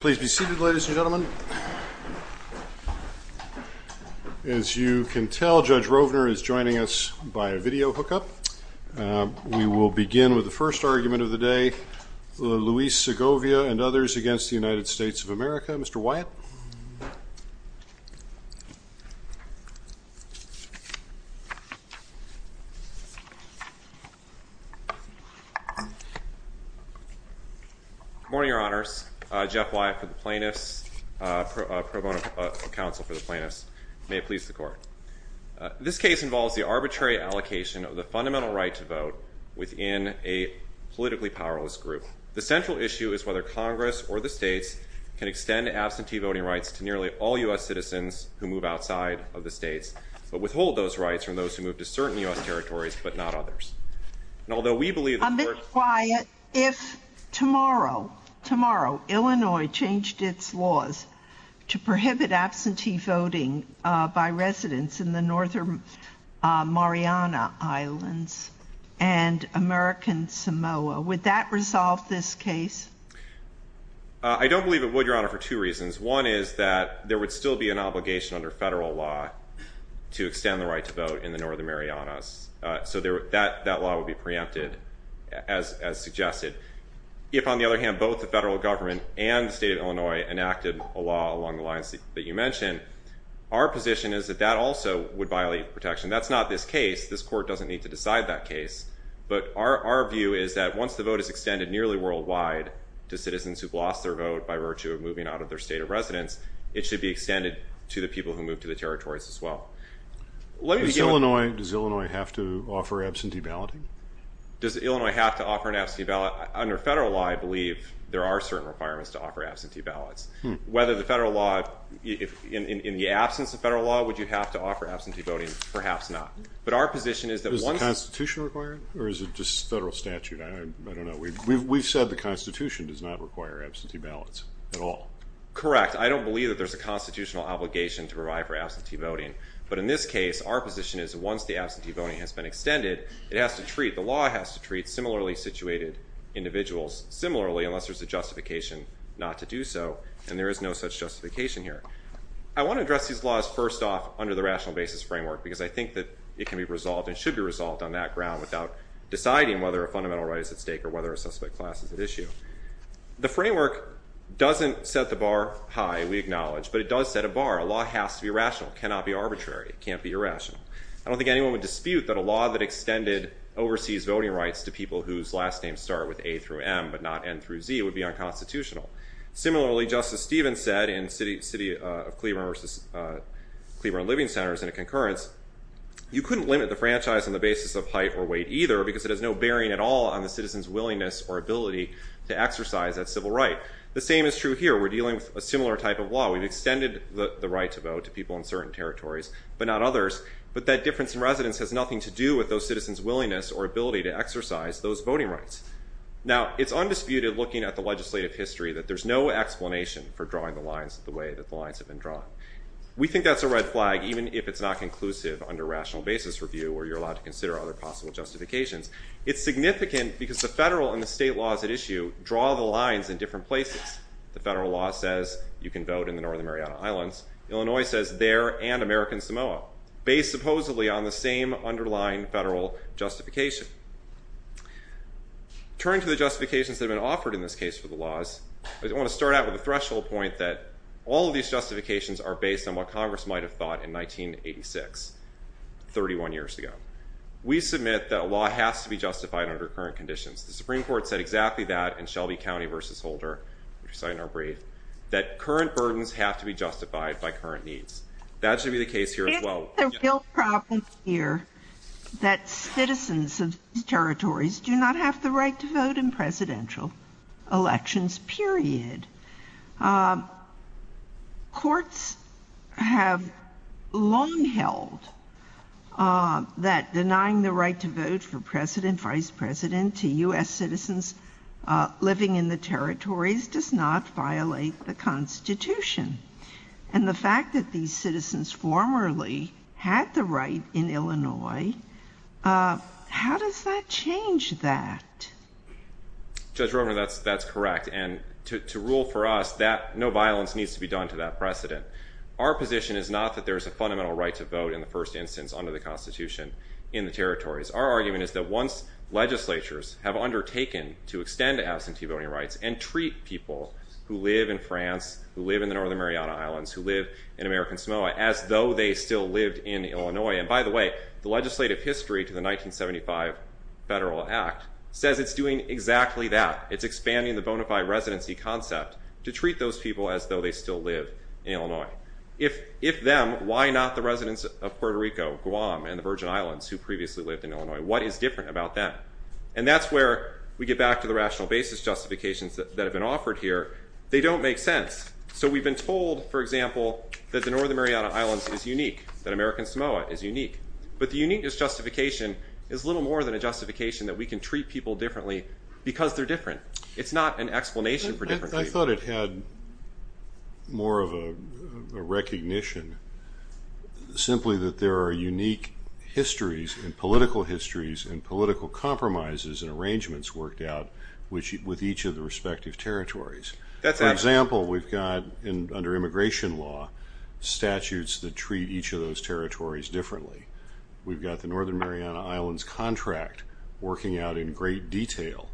Please be seated, ladies and gentlemen. As you can tell, Judge Rovner is joining us by a video hookup. We will begin with the first argument of the day. Luis Segovia and others against the Plaintiffs. This case involves the arbitrary allocation of the fundamental right to vote within a politically powerless group. The central issue is whether Congress or the states can extend absentee voting rights to nearly all U.S. citizens who move outside of the states but withhold those rights from those who move to certain U.S. territories but not others. Although we believe Mr. Wyatt, if tomorrow, tomorrow, Illinois changed its laws to prohibit absentee voting by residents in the Northern Mariana Islands and American Samoa, would that resolve this case? I don't believe it would, Your Honor, for two reasons. One is that there would still be an obligation under federal law to extend the right to vote in the Northern Marianas. So that law would be preempted as suggested. If, on the other hand, both the federal government and the state of Illinois enacted a law along the lines that you mentioned, our position is that that also would violate protection. That's not this case. This court doesn't need to decide that case. But our view is that once the vote is extended nearly worldwide to citizens who've lost their vote by virtue of moving out of their state of residence, it should be extended to the people who move to the territories as well. Does Illinois have to offer absentee balloting? Does Illinois have to offer an absentee ballot? Under federal law, I believe there are certain requirements to offer absentee ballots. Whether the federal law, in the absence of federal law, would you have to offer absentee voting? Perhaps not. But our position is that once... Does the Constitution require it or is it just federal statute? I don't know. We've said the Constitution does not require absentee ballots at all. Correct. I don't believe that there's a voting. But in this case, our position is once the absentee voting has been extended, it has to treat, the law has to treat similarly situated individuals similarly unless there's a justification not to do so. And there is no such justification here. I want to address these laws first off under the rational basis framework because I think that it can be resolved and should be resolved on that ground without deciding whether a fundamental right is at stake or whether a suspect class is at issue. The framework doesn't set the bar high, we acknowledge, but it does set a bar. A law has to be rational. It cannot be arbitrary. It can't be irrational. I don't think anyone would dispute that a law that extended overseas voting rights to people whose last names start with A through M but not N through Z would be unconstitutional. Similarly, Justice Stevens said in City of Cleveland versus Cleveland Living Centers in a concurrence, you couldn't limit the franchise on the basis of height or weight either because it has no bearing at all on the citizen's willingness or ability to exercise that civil right. The same is true here. We're dealing with a similar type of law. We've extended the right to vote to people in certain territories but not others, but that difference in residence has nothing to do with those citizens' willingness or ability to exercise those voting rights. Now, it's undisputed looking at the legislative history that there's no explanation for drawing the lines the way that the lines have been drawn. We think that's a red flag even if it's not conclusive under rational basis review where you're allowed to consider other possible justifications. It's significant because the federal and the state laws at issue draw the lines in different places. The federal law says you can vote in the Northern Mariana Islands. Illinois says there and American Samoa, based supposedly on the same underlying federal justification. Turning to the justifications that have been offered in this case for the laws, I want to start out with a threshold point that all of these justifications are based on what Congress might have thought in 1986, 31 years ago. We submit that a law has to be justified under current conditions. The Supreme Court said exactly that in Shelby County v. Holder, which we cite in our brief, that current burdens have to be justified by current needs. That should be the case here as well. It's a real problem here that citizens of these territories do not have the right to vote in presidential elections, period. Courts have long held that denying the right to vote for president, vice president to U.S. citizens living in the territories does not violate the Constitution. And the fact that these citizens formerly had the right in Illinois, how does that change that? Judge Rovner, that's correct. And to rule for us, no violence needs to be done to that precedent. Our position is not that there is a fundamental right to vote in the first instance under the Constitution in the territories. Our argument is that once legislatures have undertaken to extend absentee voting rights and treat people who live in France, who live in the Northern Mariana Islands, who live in American Samoa, as though they still lived in Illinois. And by the way, the legislative history to the 1975 Federal Act says it's doing exactly that. It's expanding the bona fide residency concept to treat those people as though they still live in Illinois. If them, why not the residents of Puerto Rico, Guam, and the Virgin Islands who previously lived in Illinois? What is different about them? And that's where we get back to the rational basis justifications that have been offered here. They don't make sense. So we've been told, for example, that the uniqueness justification is little more than a justification that we can treat people differently because they're different. It's not an explanation for different people. I thought it had more of a recognition, simply that there are unique histories and political histories and political compromises and arrangements worked out with each of the respective territories. For example, we've got under immigration law, statutes that treat each of those territories differently. We've got the Northern Mariana Islands contract working out in great detail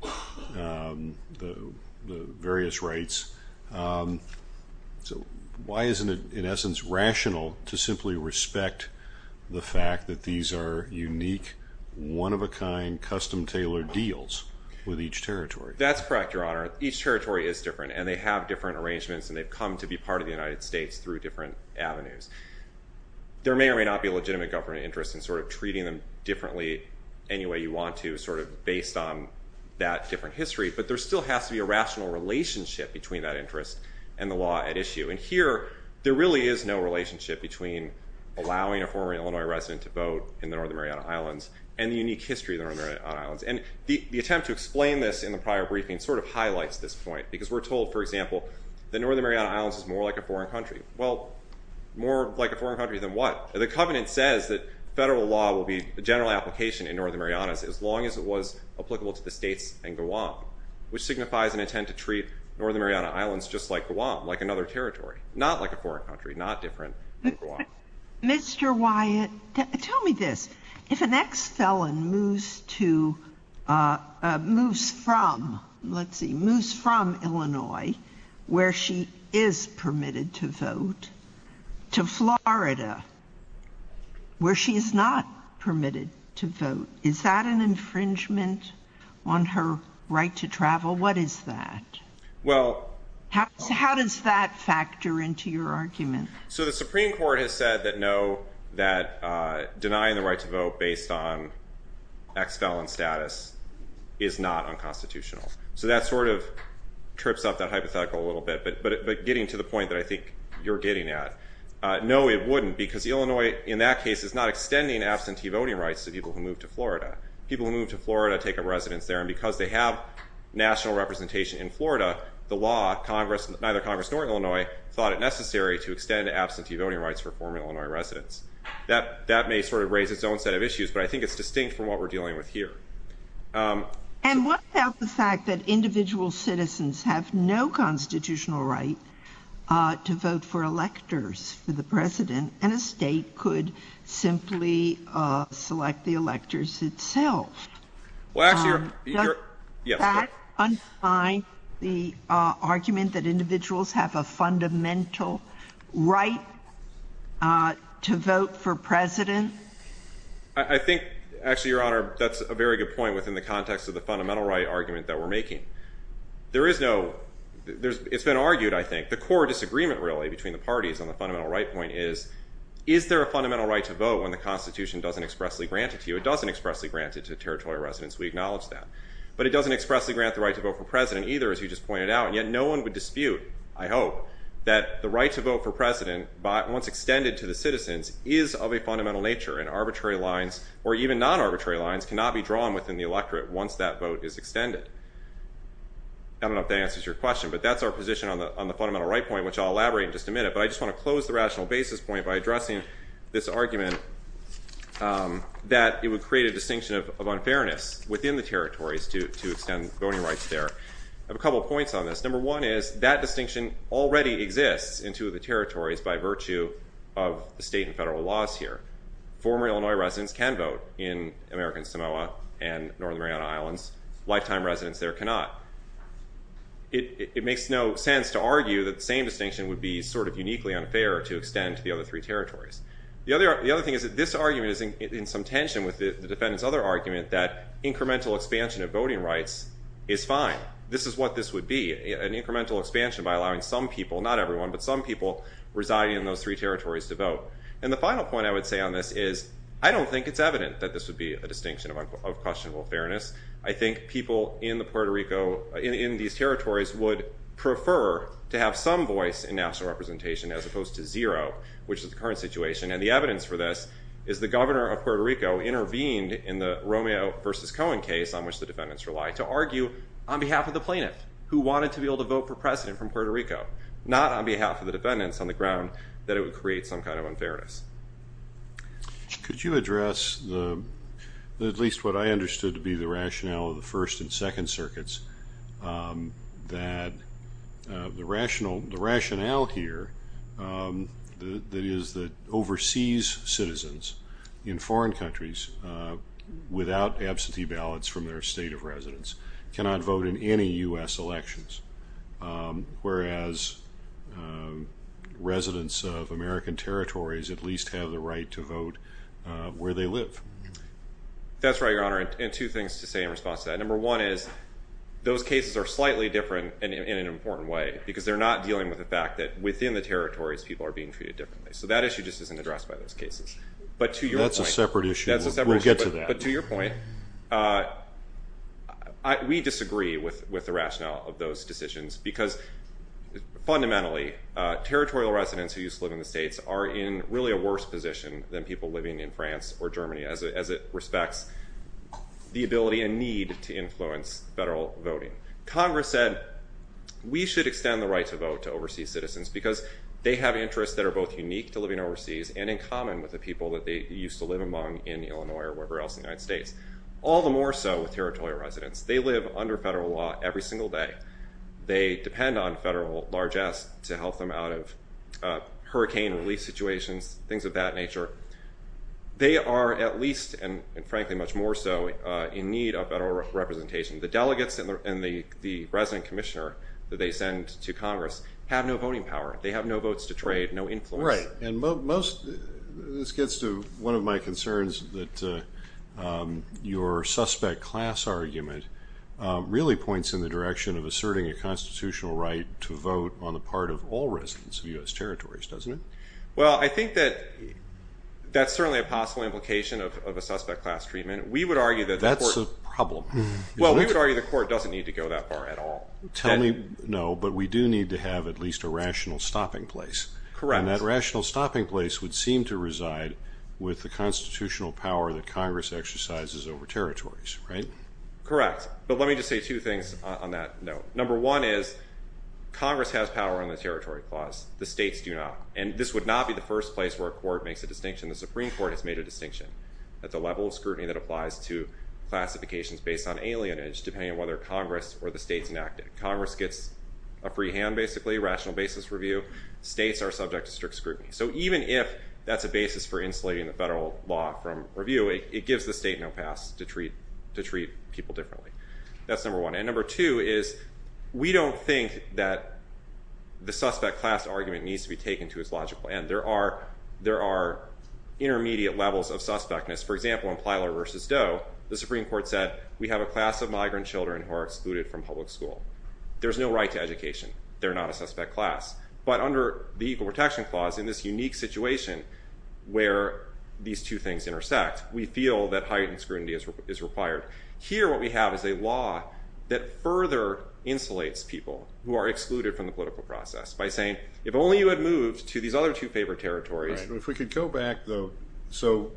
the various rights. So why isn't it, in essence, rational to simply respect the fact that these are unique, one-of-a-kind, custom-tailored deals with each territory? That's correct, Your Honor. Each territory is different, and they have different avenues. There may or may not be a legitimate government interest in treating them differently any way you want to based on that different history, but there still has to be a rational relationship between that interest and the law at issue. And here, there really is no relationship between allowing a former Illinois resident to vote in the Northern Mariana Islands and the unique history of the Northern Mariana Islands. And the attempt to explain this in the prior briefing highlights this point because we're told, for example, the Northern Mariana Islands is more a foreign country. Well, more like a foreign country than what? The covenant says that federal law will be a general application in Northern Marianas as long as it was applicable to the states and Guam, which signifies an intent to treat Northern Mariana Islands just like Guam, like another territory, not like a foreign country, not different than Guam. Mr. Wyatt, tell me this. If an ex-felon moves from Illinois, where she is permitted to vote, to Florida, where she is not permitted to vote, is that an infringement on her right to travel? What is that? How does that factor into your argument? So the Supreme Court has said that no, that denying the right to vote based on ex-felon status is not unconstitutional. So that sort of trips up that hypothetical a little bit, but getting to the point that I think you're getting at, no, it wouldn't because Illinois, in that case, is not extending absentee voting rights to people who move to Florida. People who move to Florida take up residence there, and because they have national representation in Florida, the law, neither Congress nor Illinois thought it necessary to extend absentee voting rights for former Illinois residents. That may sort of raise its own set of issues, but I think it's distinct from what we're dealing with here. And what about the fact that individual citizens have no constitutional right to vote for electors for the president, and a state could simply select the electors itself? Well, actually, you're, yes. Does that argument that individuals have a fundamental right to vote for president? I think, actually, Your Honor, that's a very good point within the context of the fundamental right argument that we're making. There is no, it's been argued, I think, the core disagreement really between the parties on the fundamental right point is, is there a fundamental right to vote when the Constitution doesn't expressly grant it to you? It doesn't expressly grant it to territorial residents. We acknowledge that. But it doesn't expressly grant the right to vote for president either, as you just pointed out, and yet no one would dispute, I hope, that the right to vote for president, once extended to the citizens, is of a fundamental nature, and arbitrary lines, or even non-arbitrary lines, cannot be drawn within the electorate once that vote is extended. I don't know if that answers your question, but that's our position on the fundamental right point, which I'll elaborate in just a minute, but I just want to close the rational basis point by addressing this argument that it would create a distinction of unfairness within the territories to extend voting rights there. I have a couple of points on this. Number one is that distinction already exists in two of the territories by virtue of the state and federal laws here. Former Illinois residents can vote in American Samoa and Northern Mariana Islands. Lifetime residents there cannot. It makes no sense to argue that the same distinction would be sort of uniquely unfair to extend to the other three territories. The other thing is that this argument is in some tension with the defendant's other argument that incremental expansion of voting rights is fine. This is what this would be, an incremental expansion by allowing some people, not everyone, but some people residing in those three territories to vote. And the final point I would say on this is I don't think it's evident that this would be a distinction of questionable fairness. I think people in Puerto Rico, in these territories, would prefer to have some voice in national representation as opposed to zero, which is the current situation, and the evidence for this is the governor of Puerto Rico intervened in the Romeo versus Cohen case on which the defendants to argue on behalf of the plaintiff who wanted to be able to vote for precedent from Puerto Rico, not on behalf of the defendants on the ground that it would create some kind of unfairness. Could you address the, at least what I understood to be the rationale of the First and Second Circuits, that the rationale here that is that overseas citizens in foreign countries without absentee ballots from their state of residence cannot vote in any U.S. elections, whereas residents of American territories at least have the right to vote where they live? That's right, Your Honor, and two things to say in response to that. Number one is those cases are slightly different in an important way because they're not dealing with the fact that within the territories people are being treated differently. So that issue just isn't addressed by those cases, but to your point... That's a separate issue. We'll get to that. But to your point, we disagree with the rationale of those decisions because fundamentally territorial residents who used to live in the states are in really a worse position than people living in France or Germany as it respects the ability and need to influence federal voting. Congress said we should extend the right to vote to overseas citizens because they have interests that are both unique to living overseas and in common with the people that they used to live among in Illinois or wherever else in the United States, all the more so with territorial residents. They live under federal law every single day. They depend on federal largesse to help them out of hurricane relief situations, things of that nature. They are at least, and frankly much more so, in need of federal representation. The delegates and the resident commissioner that they send to Congress have no voting power. They have no votes to trade, no influence. Right. And this gets to one of my concerns that your suspect class argument really points in the direction of asserting a constitutional right to vote on the part of all residents of U.S. territories, doesn't it? Well, I think that that's certainly a possible implication of a suspect class treatment. We would argue that... That's a problem. Well, we would argue the court doesn't need to go that far at all. Tell me, no, but we do need to have at least a rational stopping place. Correct. And that rational stopping place would seem to reside with the constitutional power that Congress exercises over territories, right? Correct. But let me just say two things on that note. Number one is Congress has power on the territory clause. The states do not. And this would not be the first place where a court makes a distinction. The Supreme Court has made a distinction at the level of scrutiny that applies to classifications based on alienage, depending on whether Congress or the states enact it. Congress gets a free hand, basically, rational basis review. States are subject to strict scrutiny. So even if that's a basis for insulating the federal law from review, it gives the state no pass to treat people differently. That's number one. And number two is we don't think that the suspect class argument needs to be taken to its logical end. There are intermediate levels of suspectness. For example, in Plyler v. Doe, the Supreme Court said, we have a class of migrant children who are excluded from public school. There's no right to education. They're not a suspect class. But under the Equal Protection Clause, in this unique situation where these two things intersect, we feel that heightened scrutiny is required. Here, what we have is a law that further insulates people who are excluded from the political process by saying, if only you had moved to these other two favorite territories. If we could go back, though. So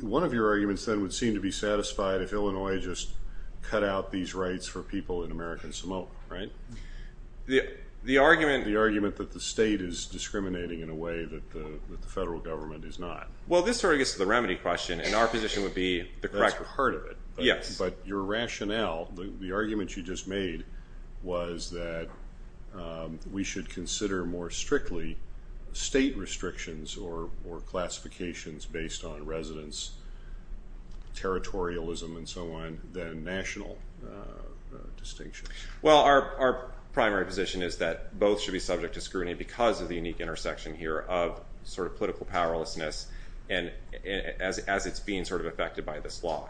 one of your arguments then would seem to be satisfied if Illinois just cut out these rights for people in American Samoa, right? The argument that the state is discriminating in a way that the federal government is not. Well, this sort of gets to the remedy question, and our position would be the correct one. That's part of it. Yes. But your rationale, the argument you just made, was that we should consider more strictly state restrictions or classifications based on residence, territorialism, and so on, than national distinctions. Well, our primary position is that both should be subject to scrutiny because of the unique intersection here of sort of political powerlessness and as it's being sort of affected by this law.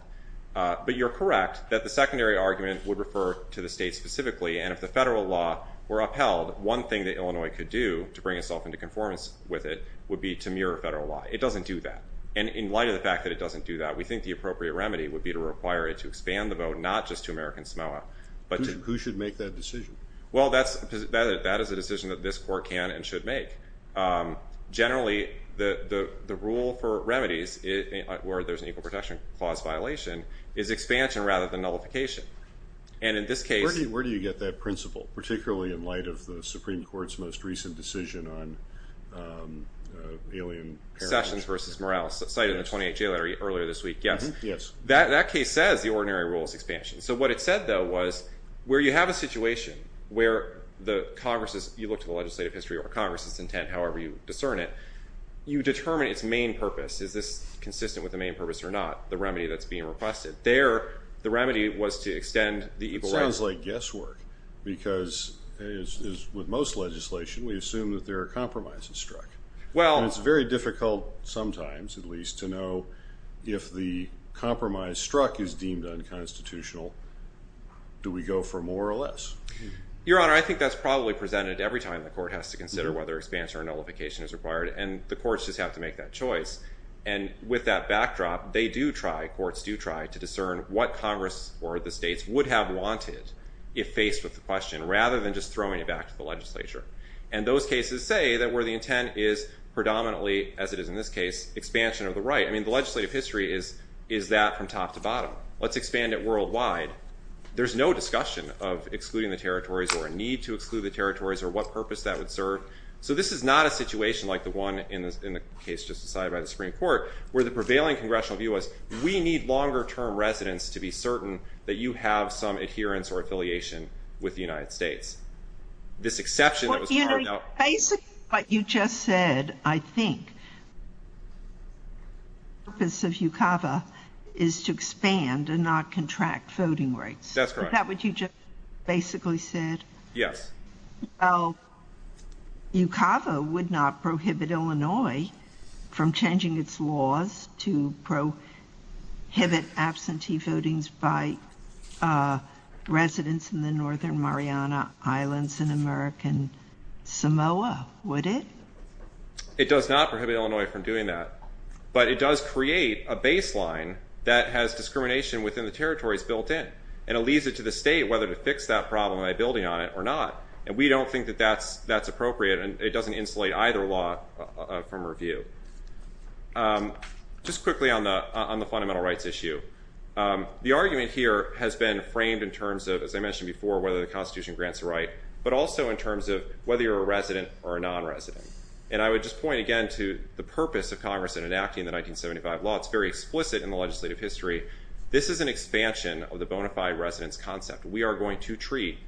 But you're correct that the secondary argument would refer to the state specifically, and if the federal law were upheld, one thing that Illinois could do to bring itself into conformance with it would be to mirror federal law. It doesn't do that, and in light of the fact that it doesn't do that, we think the appropriate remedy would be to require it to expand the vote, not just to American Samoa. Who should make that decision? Well, that is a decision that this court can and should make. Generally, the rule for remedies where there's an equal protection clause violation is expansion rather than nullification, and in this case... Where do you get that principle, particularly in light of the Supreme Court's most recent decision on alien... Sessions versus Morales, cited in the 28th jail letter earlier this week, yes. Yes. That case says the ordinary rule is expansion. So what it said, though, was where you have a situation where the Congress's, you look to the legislative history or Congress's intent, however you discern it, you determine its main purpose. Is this consistent with the main purpose or not? The remedy that's like guesswork, because with most legislation, we assume that there are compromises struck. Well... And it's very difficult sometimes, at least, to know if the compromise struck is deemed unconstitutional, do we go for more or less? Your Honor, I think that's probably presented every time the court has to consider whether expansion or nullification is required, and the courts just have to make that choice. And with that backdrop, they do try, courts do try, to discern what Congress or the states would have wanted if faced with the question, rather than just throwing it back to the legislature. And those cases say that where the intent is predominantly, as it is in this case, expansion of the right. The legislative history is that from top to bottom. Let's expand it worldwide. There's no discussion of excluding the territories or a need to exclude the territories or what purpose that would serve. So this is not a situation like the one in the case just decided by the Supreme Court, where the prevailing congressional view was, we need longer term residence to be certain that you have some adherence or affiliation with the United States. This exception that was... You know, basically what you just said, I think, the purpose of UCAVA is to expand and not contract voting rights. That's correct. That's what you just basically said? Yes. Well, UCAVA would not prohibit Illinois from changing its laws to prohibit absentee votings by residents in the northern Mariana Islands and American Samoa, would it? It does not prohibit Illinois from doing that. But it does create a baseline that has discrimination within the territories built in. And it leaves it to the state whether to fix that problem by building on it or not. And we don't think that that's appropriate. And it doesn't insulate either law from review. Just quickly on the fundamental rights issue. The argument here has been framed in terms of, as I mentioned before, whether the Constitution grants a right, but also in terms of whether you're a resident or a non-resident. And I would just point again to the purpose of Congress in enacting the 1975 law. It's very explicit in the legislative history. This is an expansion of the bona fide residence concept. We are going to treat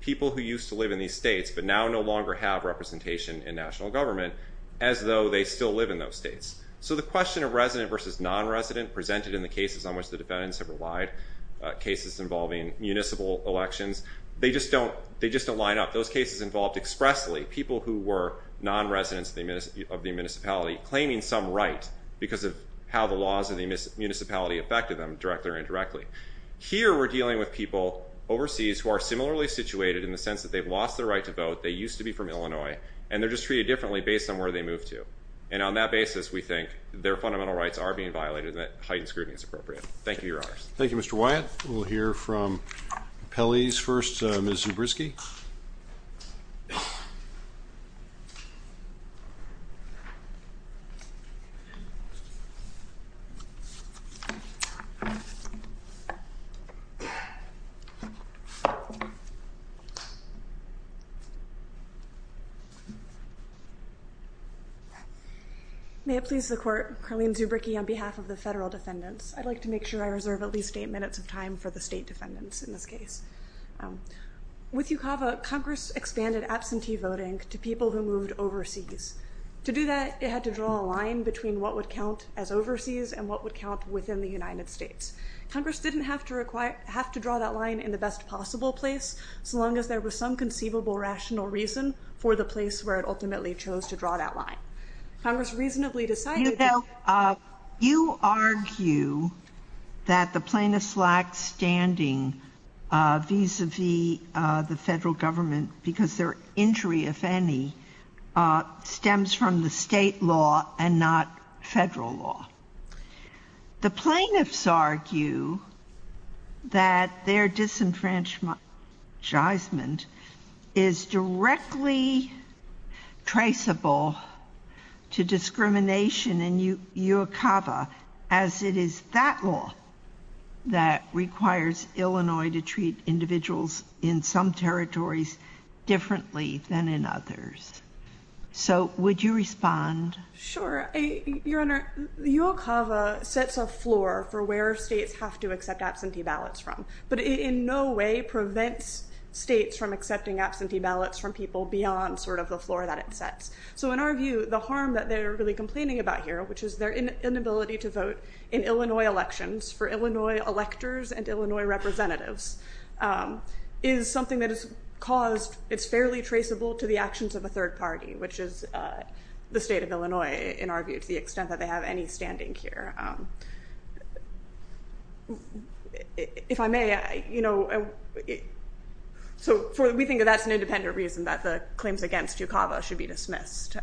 people who used to live in these states, but now no longer have representation in national government, as though they still live in those states. So the question of resident versus non-resident presented in the cases on which the defendants have relied, cases involving municipal elections, they just don't line up. Those cases involved expressly people who were non-residents of the municipality claiming some right because of how the laws of the municipality affected them, directly or indirectly. Here, we're dealing with people overseas who are similarly situated in the sense that they've lost their right to vote, they used to be from Illinois, and they're just treated differently based on where they moved to. And on that basis, we think their fundamental rights are being violated and that heightened scrutiny is appropriate. Thank you, Your Honors. Thank you, Mr. Wyatt. We'll hear from Pele's first, Ms. Zubrisky. May it please the Court, Carleen Zubrisky on behalf of the federal defendants. I'd like to make sure I reserve at least eight minutes of time for the state defendants in this case. With UCAVA, Congress expanded absentee voting to people who moved overseas. To do that, it had to draw a line between what would count as overseas and what would count within the United States. Congress didn't have to draw that line in the best possible place, so long as there was some conceivable rational reason for the place where it ultimately chose to draw that line. Congress reasonably decided that- You know, you argue that the plaintiffs lack standing vis-a-vis the federal government because their injury, if any, stems from the state law and not federal law. The plaintiffs argue that their disenfranchisement is directly traceable to discrimination in UCAVA as it is that law that requires So would you respond? Sure. Your Honor, UCAVA sets a floor for where states have to accept absentee ballots from, but in no way prevents states from accepting absentee ballots from people beyond sort of the floor that it sets. So in our view, the harm that they're really complaining about here, which is their inability to vote in Illinois elections for Illinois electors and Illinois representatives, is something that is caused, it's fairly traceable to the actions of a third party, which is the state of Illinois, in our view, to the extent that they have any standing here. If I may, you know, so we think that that's an independent reason that the claims against UCAVA should be dismissed,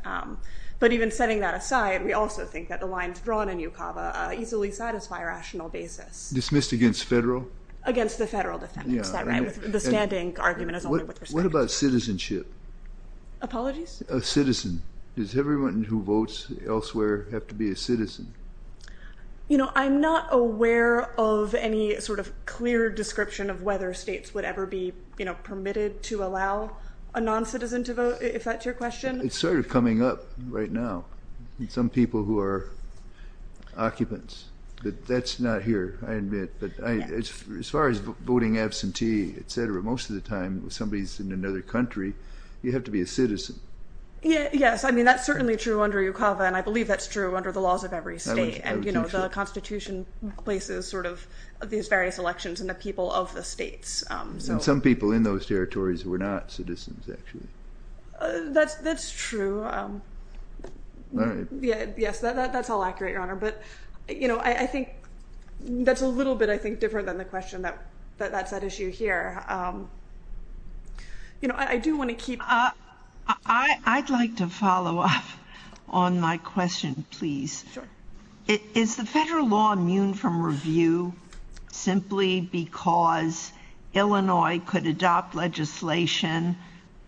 but even setting that aside, we also think that the lines drawn in UCAVA easily satisfy a rational basis. Dismissed against federal? Against the federal defense, is that right? The standing argument is only with respect. What about citizenship? Apologies? A citizen. Does everyone who votes elsewhere have to be a citizen? You know, I'm not aware of any sort of clear description of whether states would ever be, you know, permitted to allow a non-citizen to vote, if that's your question. It's sort of coming up right now. Some people who are as far as voting absentee, etc., most of the time, if somebody's in another country, you have to be a citizen. Yes, I mean, that's certainly true under UCAVA, and I believe that's true under the laws of every state, and, you know, the Constitution places sort of these various elections in the people of the states. And some people in those territories were not citizens, actually. That's true. Yes, that's all accurate, Your Honor, but, you know, I think that's a little bit, I think, the question that, that's at issue here. You know, I do want to keep... I'd like to follow up on my question, please. Is the federal law immune from review, simply because Illinois could adopt legislation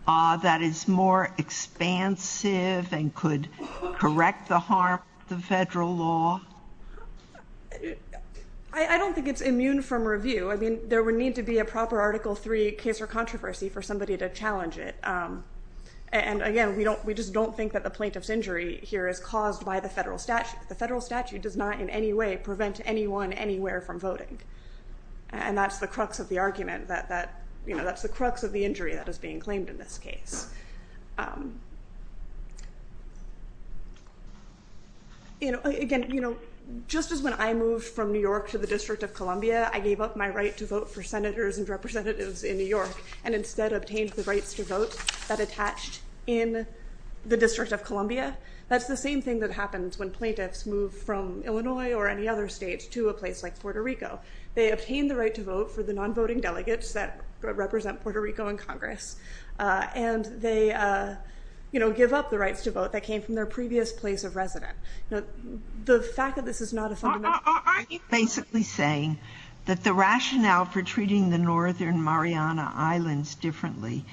that is more expansive and could correct the harm of the federal law? I don't think it's immune from review. I mean, there would need to be a proper Article 3 case or controversy for somebody to challenge it. And, again, we don't, we just don't think that the plaintiff's injury here is caused by the federal statute. The federal statute does not in any way prevent anyone anywhere from voting. And that's the crux of the argument that, you know, that's the crux of the injury that is being claimed in this case. You know, again, you know, just as when I moved from New York to the District of Columbia, I gave up my right to vote for senators and representatives in New York and instead obtained the rights to vote that attached in the District of Columbia. That's the same thing that happens when plaintiffs move from Illinois or any other state to a place like Puerto Rico. They obtain the right to vote for the non-voting delegates that represent Puerto Rico in Congress. And they, you know, give up the rights to vote that came from their previous place of resident. You know, the fact that this is not a fundamental- Are you basically saying that the rationale for treating the Northern Mariana Islands differently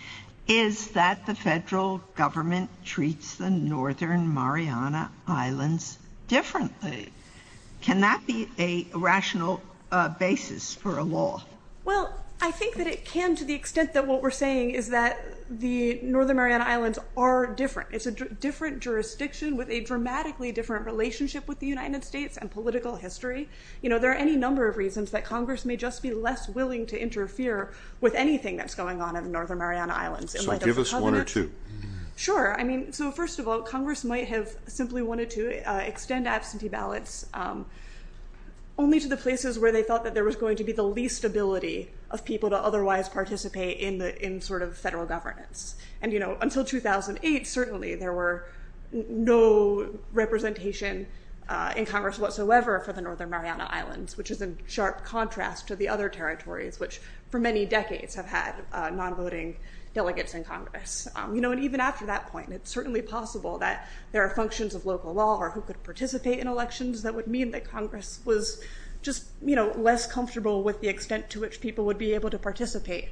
is that the federal government treats the Northern Mariana Islands differently? Can that be a rational basis for a law? Well, I think that it can to the extent that what we're saying is that the Northern Mariana Islands are different. It's a different jurisdiction with a dramatically different relationship with the United States and political history. You know, there are any number of reasons that Congress may just be less willing to interfere with anything that's going on in the Northern Mariana Islands. So give us one or two. Sure. I mean, so first of all, Congress might have simply wanted to extend absentee ballots only to the places where they felt that there was going to be the least ability of people to otherwise participate in sort of federal governance. And, you know, until 2008, certainly there were no representation in Congress whatsoever for the Northern Mariana Islands, which is in sharp contrast to the other territories, which for many decades have had non-voting delegates in Congress. You know, and even after that point, it's certainly possible that there are functions of local law or who could participate in elections that would mean that Congress was just, you know, less comfortable with the extent to which people would be able to participate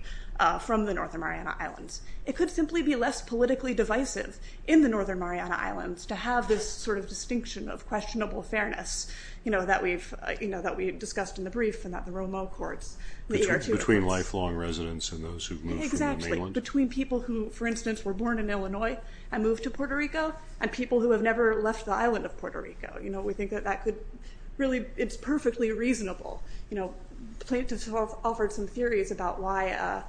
from the Northern Mariana Islands. It could simply be less politically divisive in the Northern Mariana Islands to have this sort of distinction of questionable fairness, you know, that we've, you know, that we've discussed in the brief and that the Romo courts. Between lifelong residents and those who move from the mainland. Between people who, for instance, were born in Illinois and moved to Puerto Rico and people who have never left the island of Puerto Rico. You know, we think that that could really, it's perfectly reasonable. You know, plaintiffs have offered some theories about why,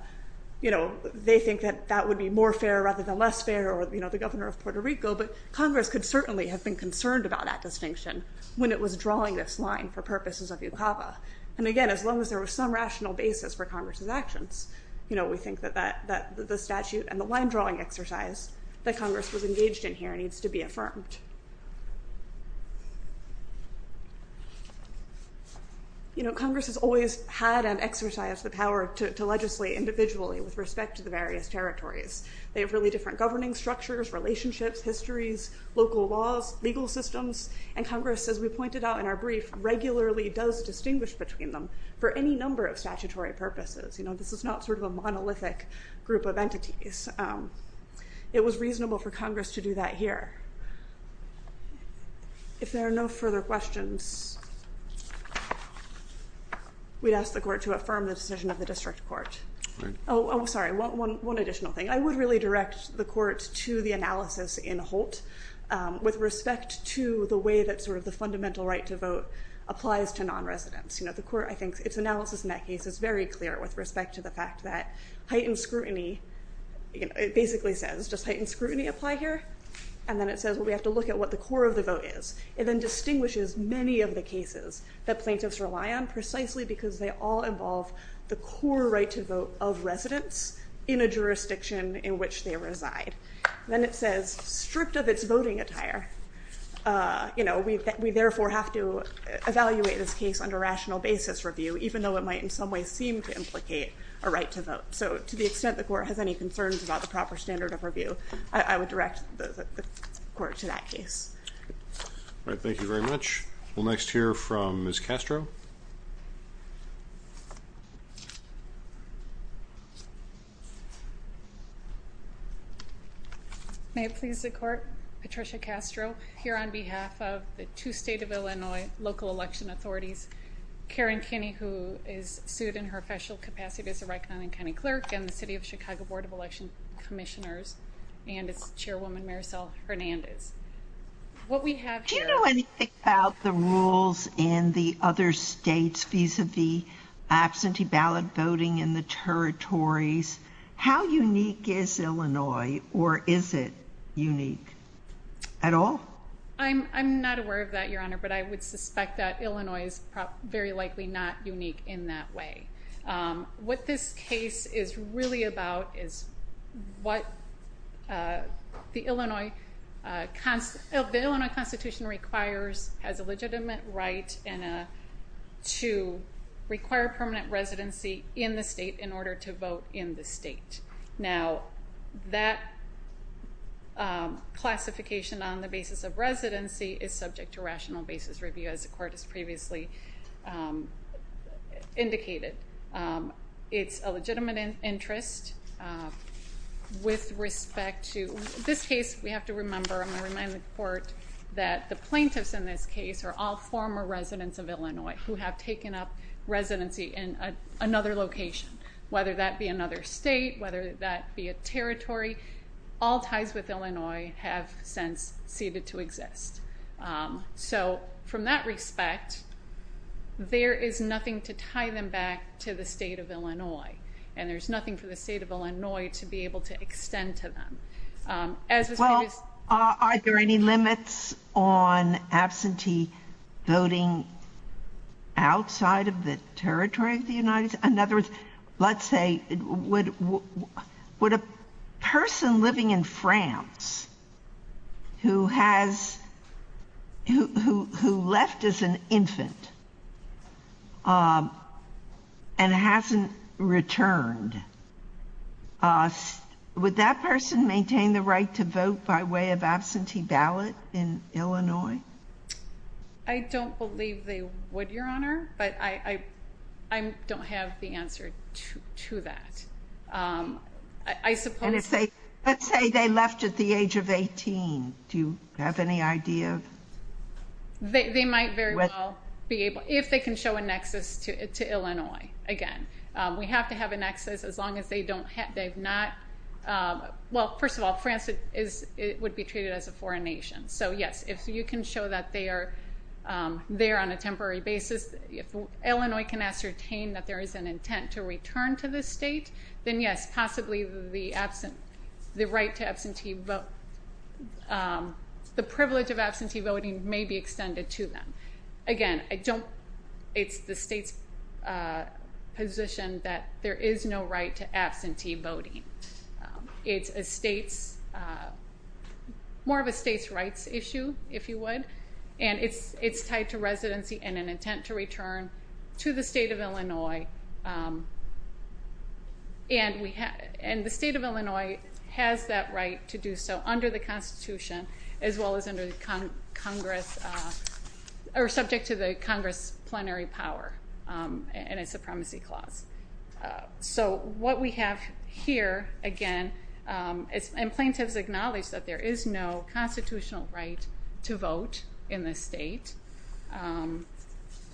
you know, they think that that would be more fair rather than less fair or, you know, the governor of Puerto Rico. But Congress could certainly have been concerned about that distinction when it was drawing this line for purposes of UCAVA. And again, as long as there was some rational basis for Congress's actions, you know, we think that the statute and the line drawing exercise that Congress was engaged in here needs to be affirmed. You know, Congress has always had an exercise, the power to legislate individually with respect to the various territories. They have really different governing structures, relationships, histories, local laws, legal systems, and Congress, as we pointed out in our brief, regularly does distinguish between them for any number of statutory purposes. You know, this is not sort of a monolithic group of entities. It was reasonable for Congress to do that here. If there are no further questions, we'd ask the court to affirm the decision of the district court. Oh, I'm sorry, one additional thing. I would really direct the court to the analysis in Holt with respect to the way that sort of the fundamental right to vote applies to non-residents. You know, the court, I think, its analysis in that case is very clear with respect to the fact that heightened scrutiny, you know, it basically says, does heightened scrutiny apply here? And then it says, well, we have to look at what the core of the vote is. It then distinguishes many of the cases that plaintiffs rely on precisely because they all involve the core right to vote of residents in a jurisdiction in which they reside. Then it says, stripped of its voting attire, you know, we therefore have to evaluate this case under rational basis review, even though it might in some way seem to implicate a right to vote. So to the extent the court has any concerns about the proper standard of review, I would direct the court to that case. All right, thank you very much. We'll next hear from Ms. Castro. May it please the court, Patricia Castro, here on behalf of the two state of Illinois local election authorities, Karen Kinney, who is sued in her official capacity as a chairwoman, Maricel Hernandez. What we have here— Do you know anything about the rules in the other states vis-a-vis absentee ballot voting in the territories? How unique is Illinois, or is it unique at all? I'm not aware of that, Your Honor, but I would suspect that Illinois is very likely not unique in that way. What this case is really about is what the Illinois Constitution requires as a legitimate right to require permanent residency in the state in order to vote in the state. Now, that classification on the basis of residency is subject to rational basis review, as the it's a legitimate interest with respect to— This case, we have to remember—I'm going to remind the court that the plaintiffs in this case are all former residents of Illinois who have taken up residency in another location, whether that be another state, whether that be a territory. All ties with Illinois have since ceded to exist. So, from that respect, there is nothing to tie them back to the state of Illinois, and there's nothing for the state of Illinois to be able to extend to them. Well, are there any limits on absentee voting outside of the territory of the United States? Let's say, would a person living in France who left as an infant and hasn't returned, would that person maintain the right to vote by way of absentee ballot in Illinois? I don't believe they would, Your Honor, but I don't have the answer to that. Let's say they left at the age of 18. Do you have any idea? They might very well be able—if they can show a nexus to Illinois. Again, we have to have a nexus as long as they don't have—they've not—well, first of all, France would be treated as a foreign nation. So, yes, if you can show that they are there on a temporary basis, if Illinois can ascertain that there is an intent to return to the state, then yes, possibly the right to absentee vote—the privilege of absentee voting may be extended to them. Again, I don't—it's the state's position that there is no right to absentee voting. It's a state's—more of a state's rights issue, if you would, and it's tied to residency and an intent to return to the state of Illinois, and the state of Illinois has that right to do so under the Constitution as well as under Congress—or subject to the Congress plenary power and a supremacy clause. So what we have here, again—and plaintiffs acknowledge that there is no constitutional right to vote in this state.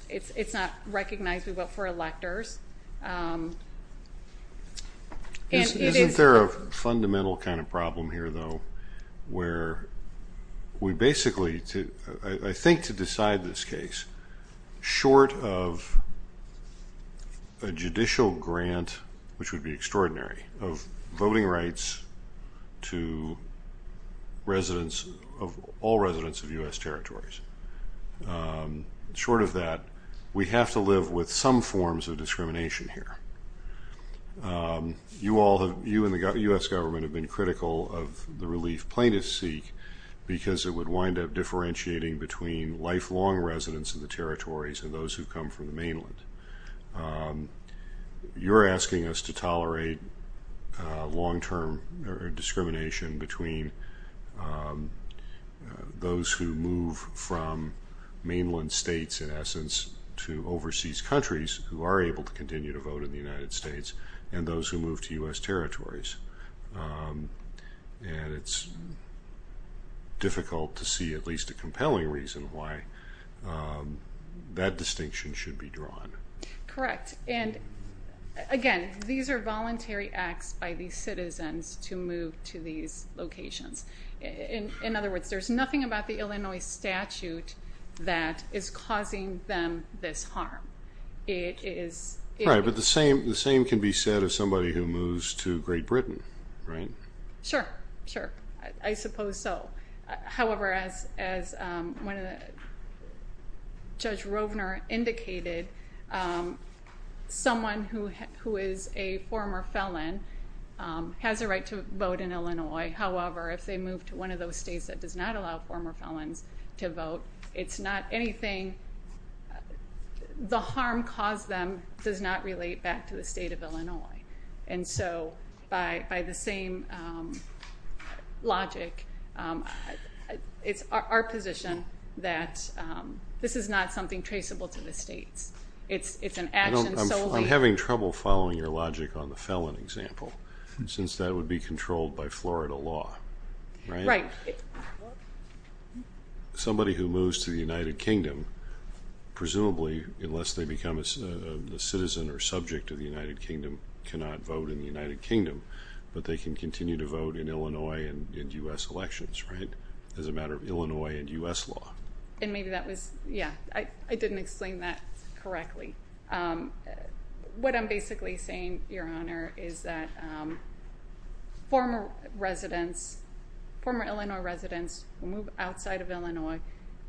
It's not recognized. We vote for electors. Isn't there a fundamental kind of problem here, though, where we basically—I think to decide this case, short of a judicial grant, which would be extraordinary, of voting rights to residents—of all residents of U.S. territories. Short of that, we have to live with some forms of discrimination here. You all have—you and the U.S. government have been critical of the relief plaintiffs seek because it would wind up differentiating between lifelong residents of the territories and those who come from the mainland. You're asking us to tolerate long-term discrimination between those who move from mainland states, in essence, to overseas countries who are able to continue vote in the United States, and those who move to U.S. territories. And it's difficult to see at least a compelling reason why that distinction should be drawn. Correct. And again, these are voluntary acts by these citizens to move to these locations. In other words, there's nothing about the Illinois statute that is causing them this harm. It is— Right, but the same can be said of somebody who moves to Great Britain, right? Sure, sure. I suppose so. However, as Judge Rovner indicated, someone who is a former felon has a right to vote in Illinois. However, if they move to one of those states that does not allow former felons to vote, it's not anything—the harm caused to them does not relate back to the state of Illinois. And so, by the same logic, it's our position that this is not something traceable to the states. It's an action solely— I'm having trouble following your logic on the law, right? Right. Somebody who moves to the United Kingdom, presumably unless they become a citizen or subject of the United Kingdom, cannot vote in the United Kingdom, but they can continue to vote in Illinois and U.S. elections, right? As a matter of Illinois and U.S. law. And maybe that was—yeah, I didn't explain that correctly. What I'm basically saying, Your Honor, is that former residents, former Illinois residents who move outside of Illinois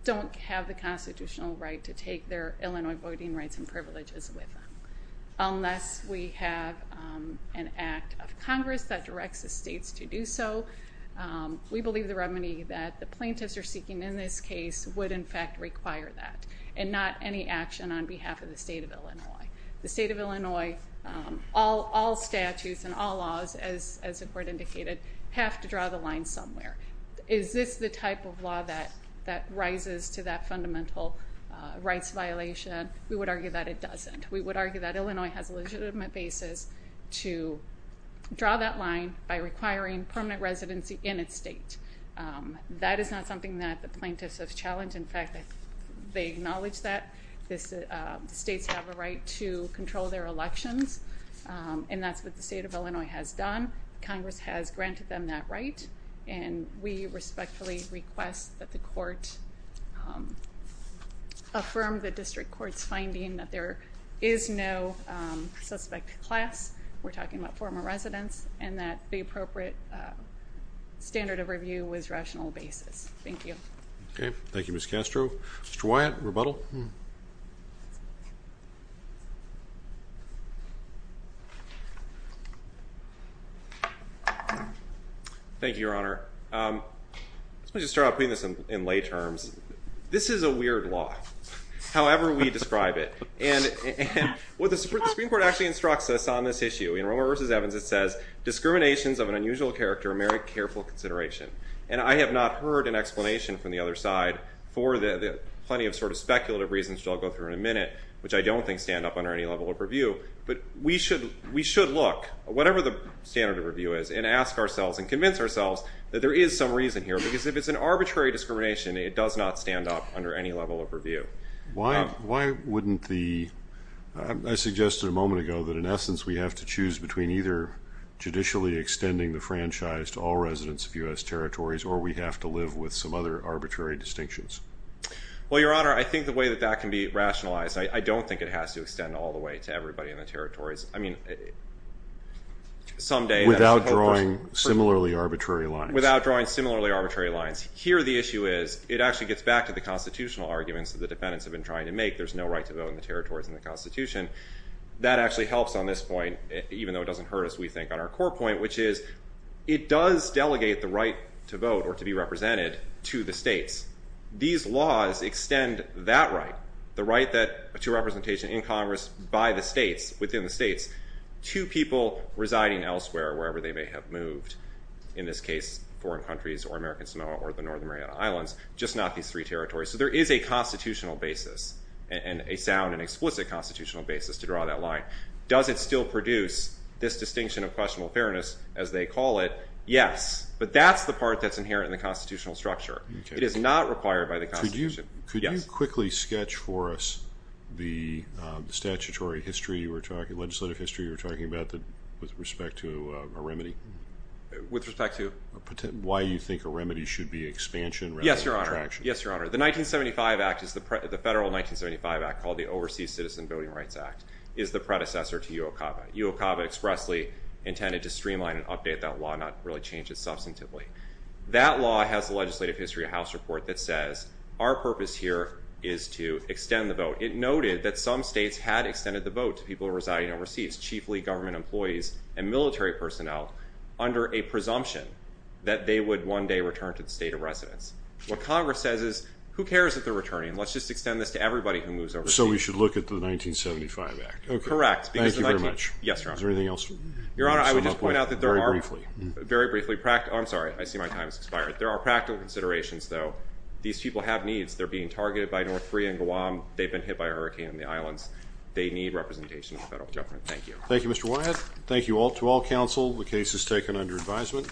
don't have the constitutional right to take their Illinois voting rights and privileges with them. Unless we have an act of Congress that directs the states to do so, we believe the remedy that the plaintiffs are seeking in this case would, in fact, require that, and not any action on behalf of the state of Illinois. The state of Illinois, all statutes and all laws, as the Court indicated, have to draw the line somewhere. Is this the type of law that rises to that fundamental rights violation? We would argue that it doesn't. We would argue that Illinois has a legitimate basis to draw that line by requiring permanent residency in its state. That is not something that the states have a right to control their elections, and that's what the state of Illinois has done. Congress has granted them that right, and we respectfully request that the Court affirm the District Court's finding that there is no suspect class—we're talking about former residents—and that the appropriate standard of review was rational basis. Thank you. Okay, thank you, Ms. Castro. Mr. Wyatt, rebuttal? Thank you, Your Honor. Let me just start out putting this in lay terms. This is a weird law, however we describe it. And what the Supreme Court actually instructs us on this issue, in Romer v. Evans, it says, discriminations of an unusual character merit careful consideration. And I have not heard an explanation from the other side for the plenty of sort of speculative reasons, which I'll go through in a minute, which I don't think stand up under any level of review. But we should look, whatever the standard of review is, and ask ourselves and convince ourselves that there is some reason here, because if it's an arbitrary discrimination, it does not stand up under any level of review. Why wouldn't the—I suggested a moment ago that, in essence, we have to choose between either judicially extending the franchise to all residents of U.S. territories, or we have to live with some arbitrary distinctions? Well, Your Honor, I think the way that that can be rationalized, I don't think it has to extend all the way to everybody in the territories. I mean, someday—Without drawing similarly arbitrary lines. Without drawing similarly arbitrary lines. Here the issue is, it actually gets back to the constitutional arguments that the defendants have been trying to make. There's no right to vote in the territories in the Constitution. That actually helps on this point, even though it doesn't hurt us, we think, on our core point, which is, it does delegate the right to vote, or to be represented, to the states. These laws extend that right, the right to representation in Congress by the states, within the states, to people residing elsewhere, wherever they may have moved. In this case, foreign countries, or American Samoa, or the Northern Mariana Islands, just not these three territories. So there is a constitutional basis, and a sound and explicit constitutional basis, to draw that line. Does it still produce this distinction of questionable fairness, as they call it? Yes. But that's the part that's inherent in the constitutional structure. It is not required by the Constitution. Could you quickly sketch for us the statutory history you were talking—legislative history—you were talking about, with respect to a remedy? With respect to? Why you think a remedy should be expansion rather than contraction. Yes, Your Honor. The 1975 Act, the federal 1975 Act, called the Overseas Citizen Voting Rights Act, is the predecessor to UOCAVA. UOCAVA expressly intended to streamline and update that law, not really change it substantively. That law has a legislative history, a House report, that says our purpose here is to extend the vote. It noted that some states had extended the vote to people residing overseas, chiefly government employees and military personnel, under a presumption that they would one day return to the state of residence. What Congress says is, who cares if they're returning? Let's just extend this to everybody who moves overseas. So we should look at the 1975 Act? Correct. Thank you very much. Yes, Your Honor. Is there anything else? Your Honor, I would just point out that there are— Very briefly. Very briefly. Oh, I'm sorry. I see my time has expired. There are practical considerations, though. These people have needs. They're being targeted by North Korea and Guam. They've been hit by a hurricane in the islands. They need representation of the federal government. Thank you. Thank you, Mr. Wyatt. Thank you all. To all counsel, the case is taken under advisement.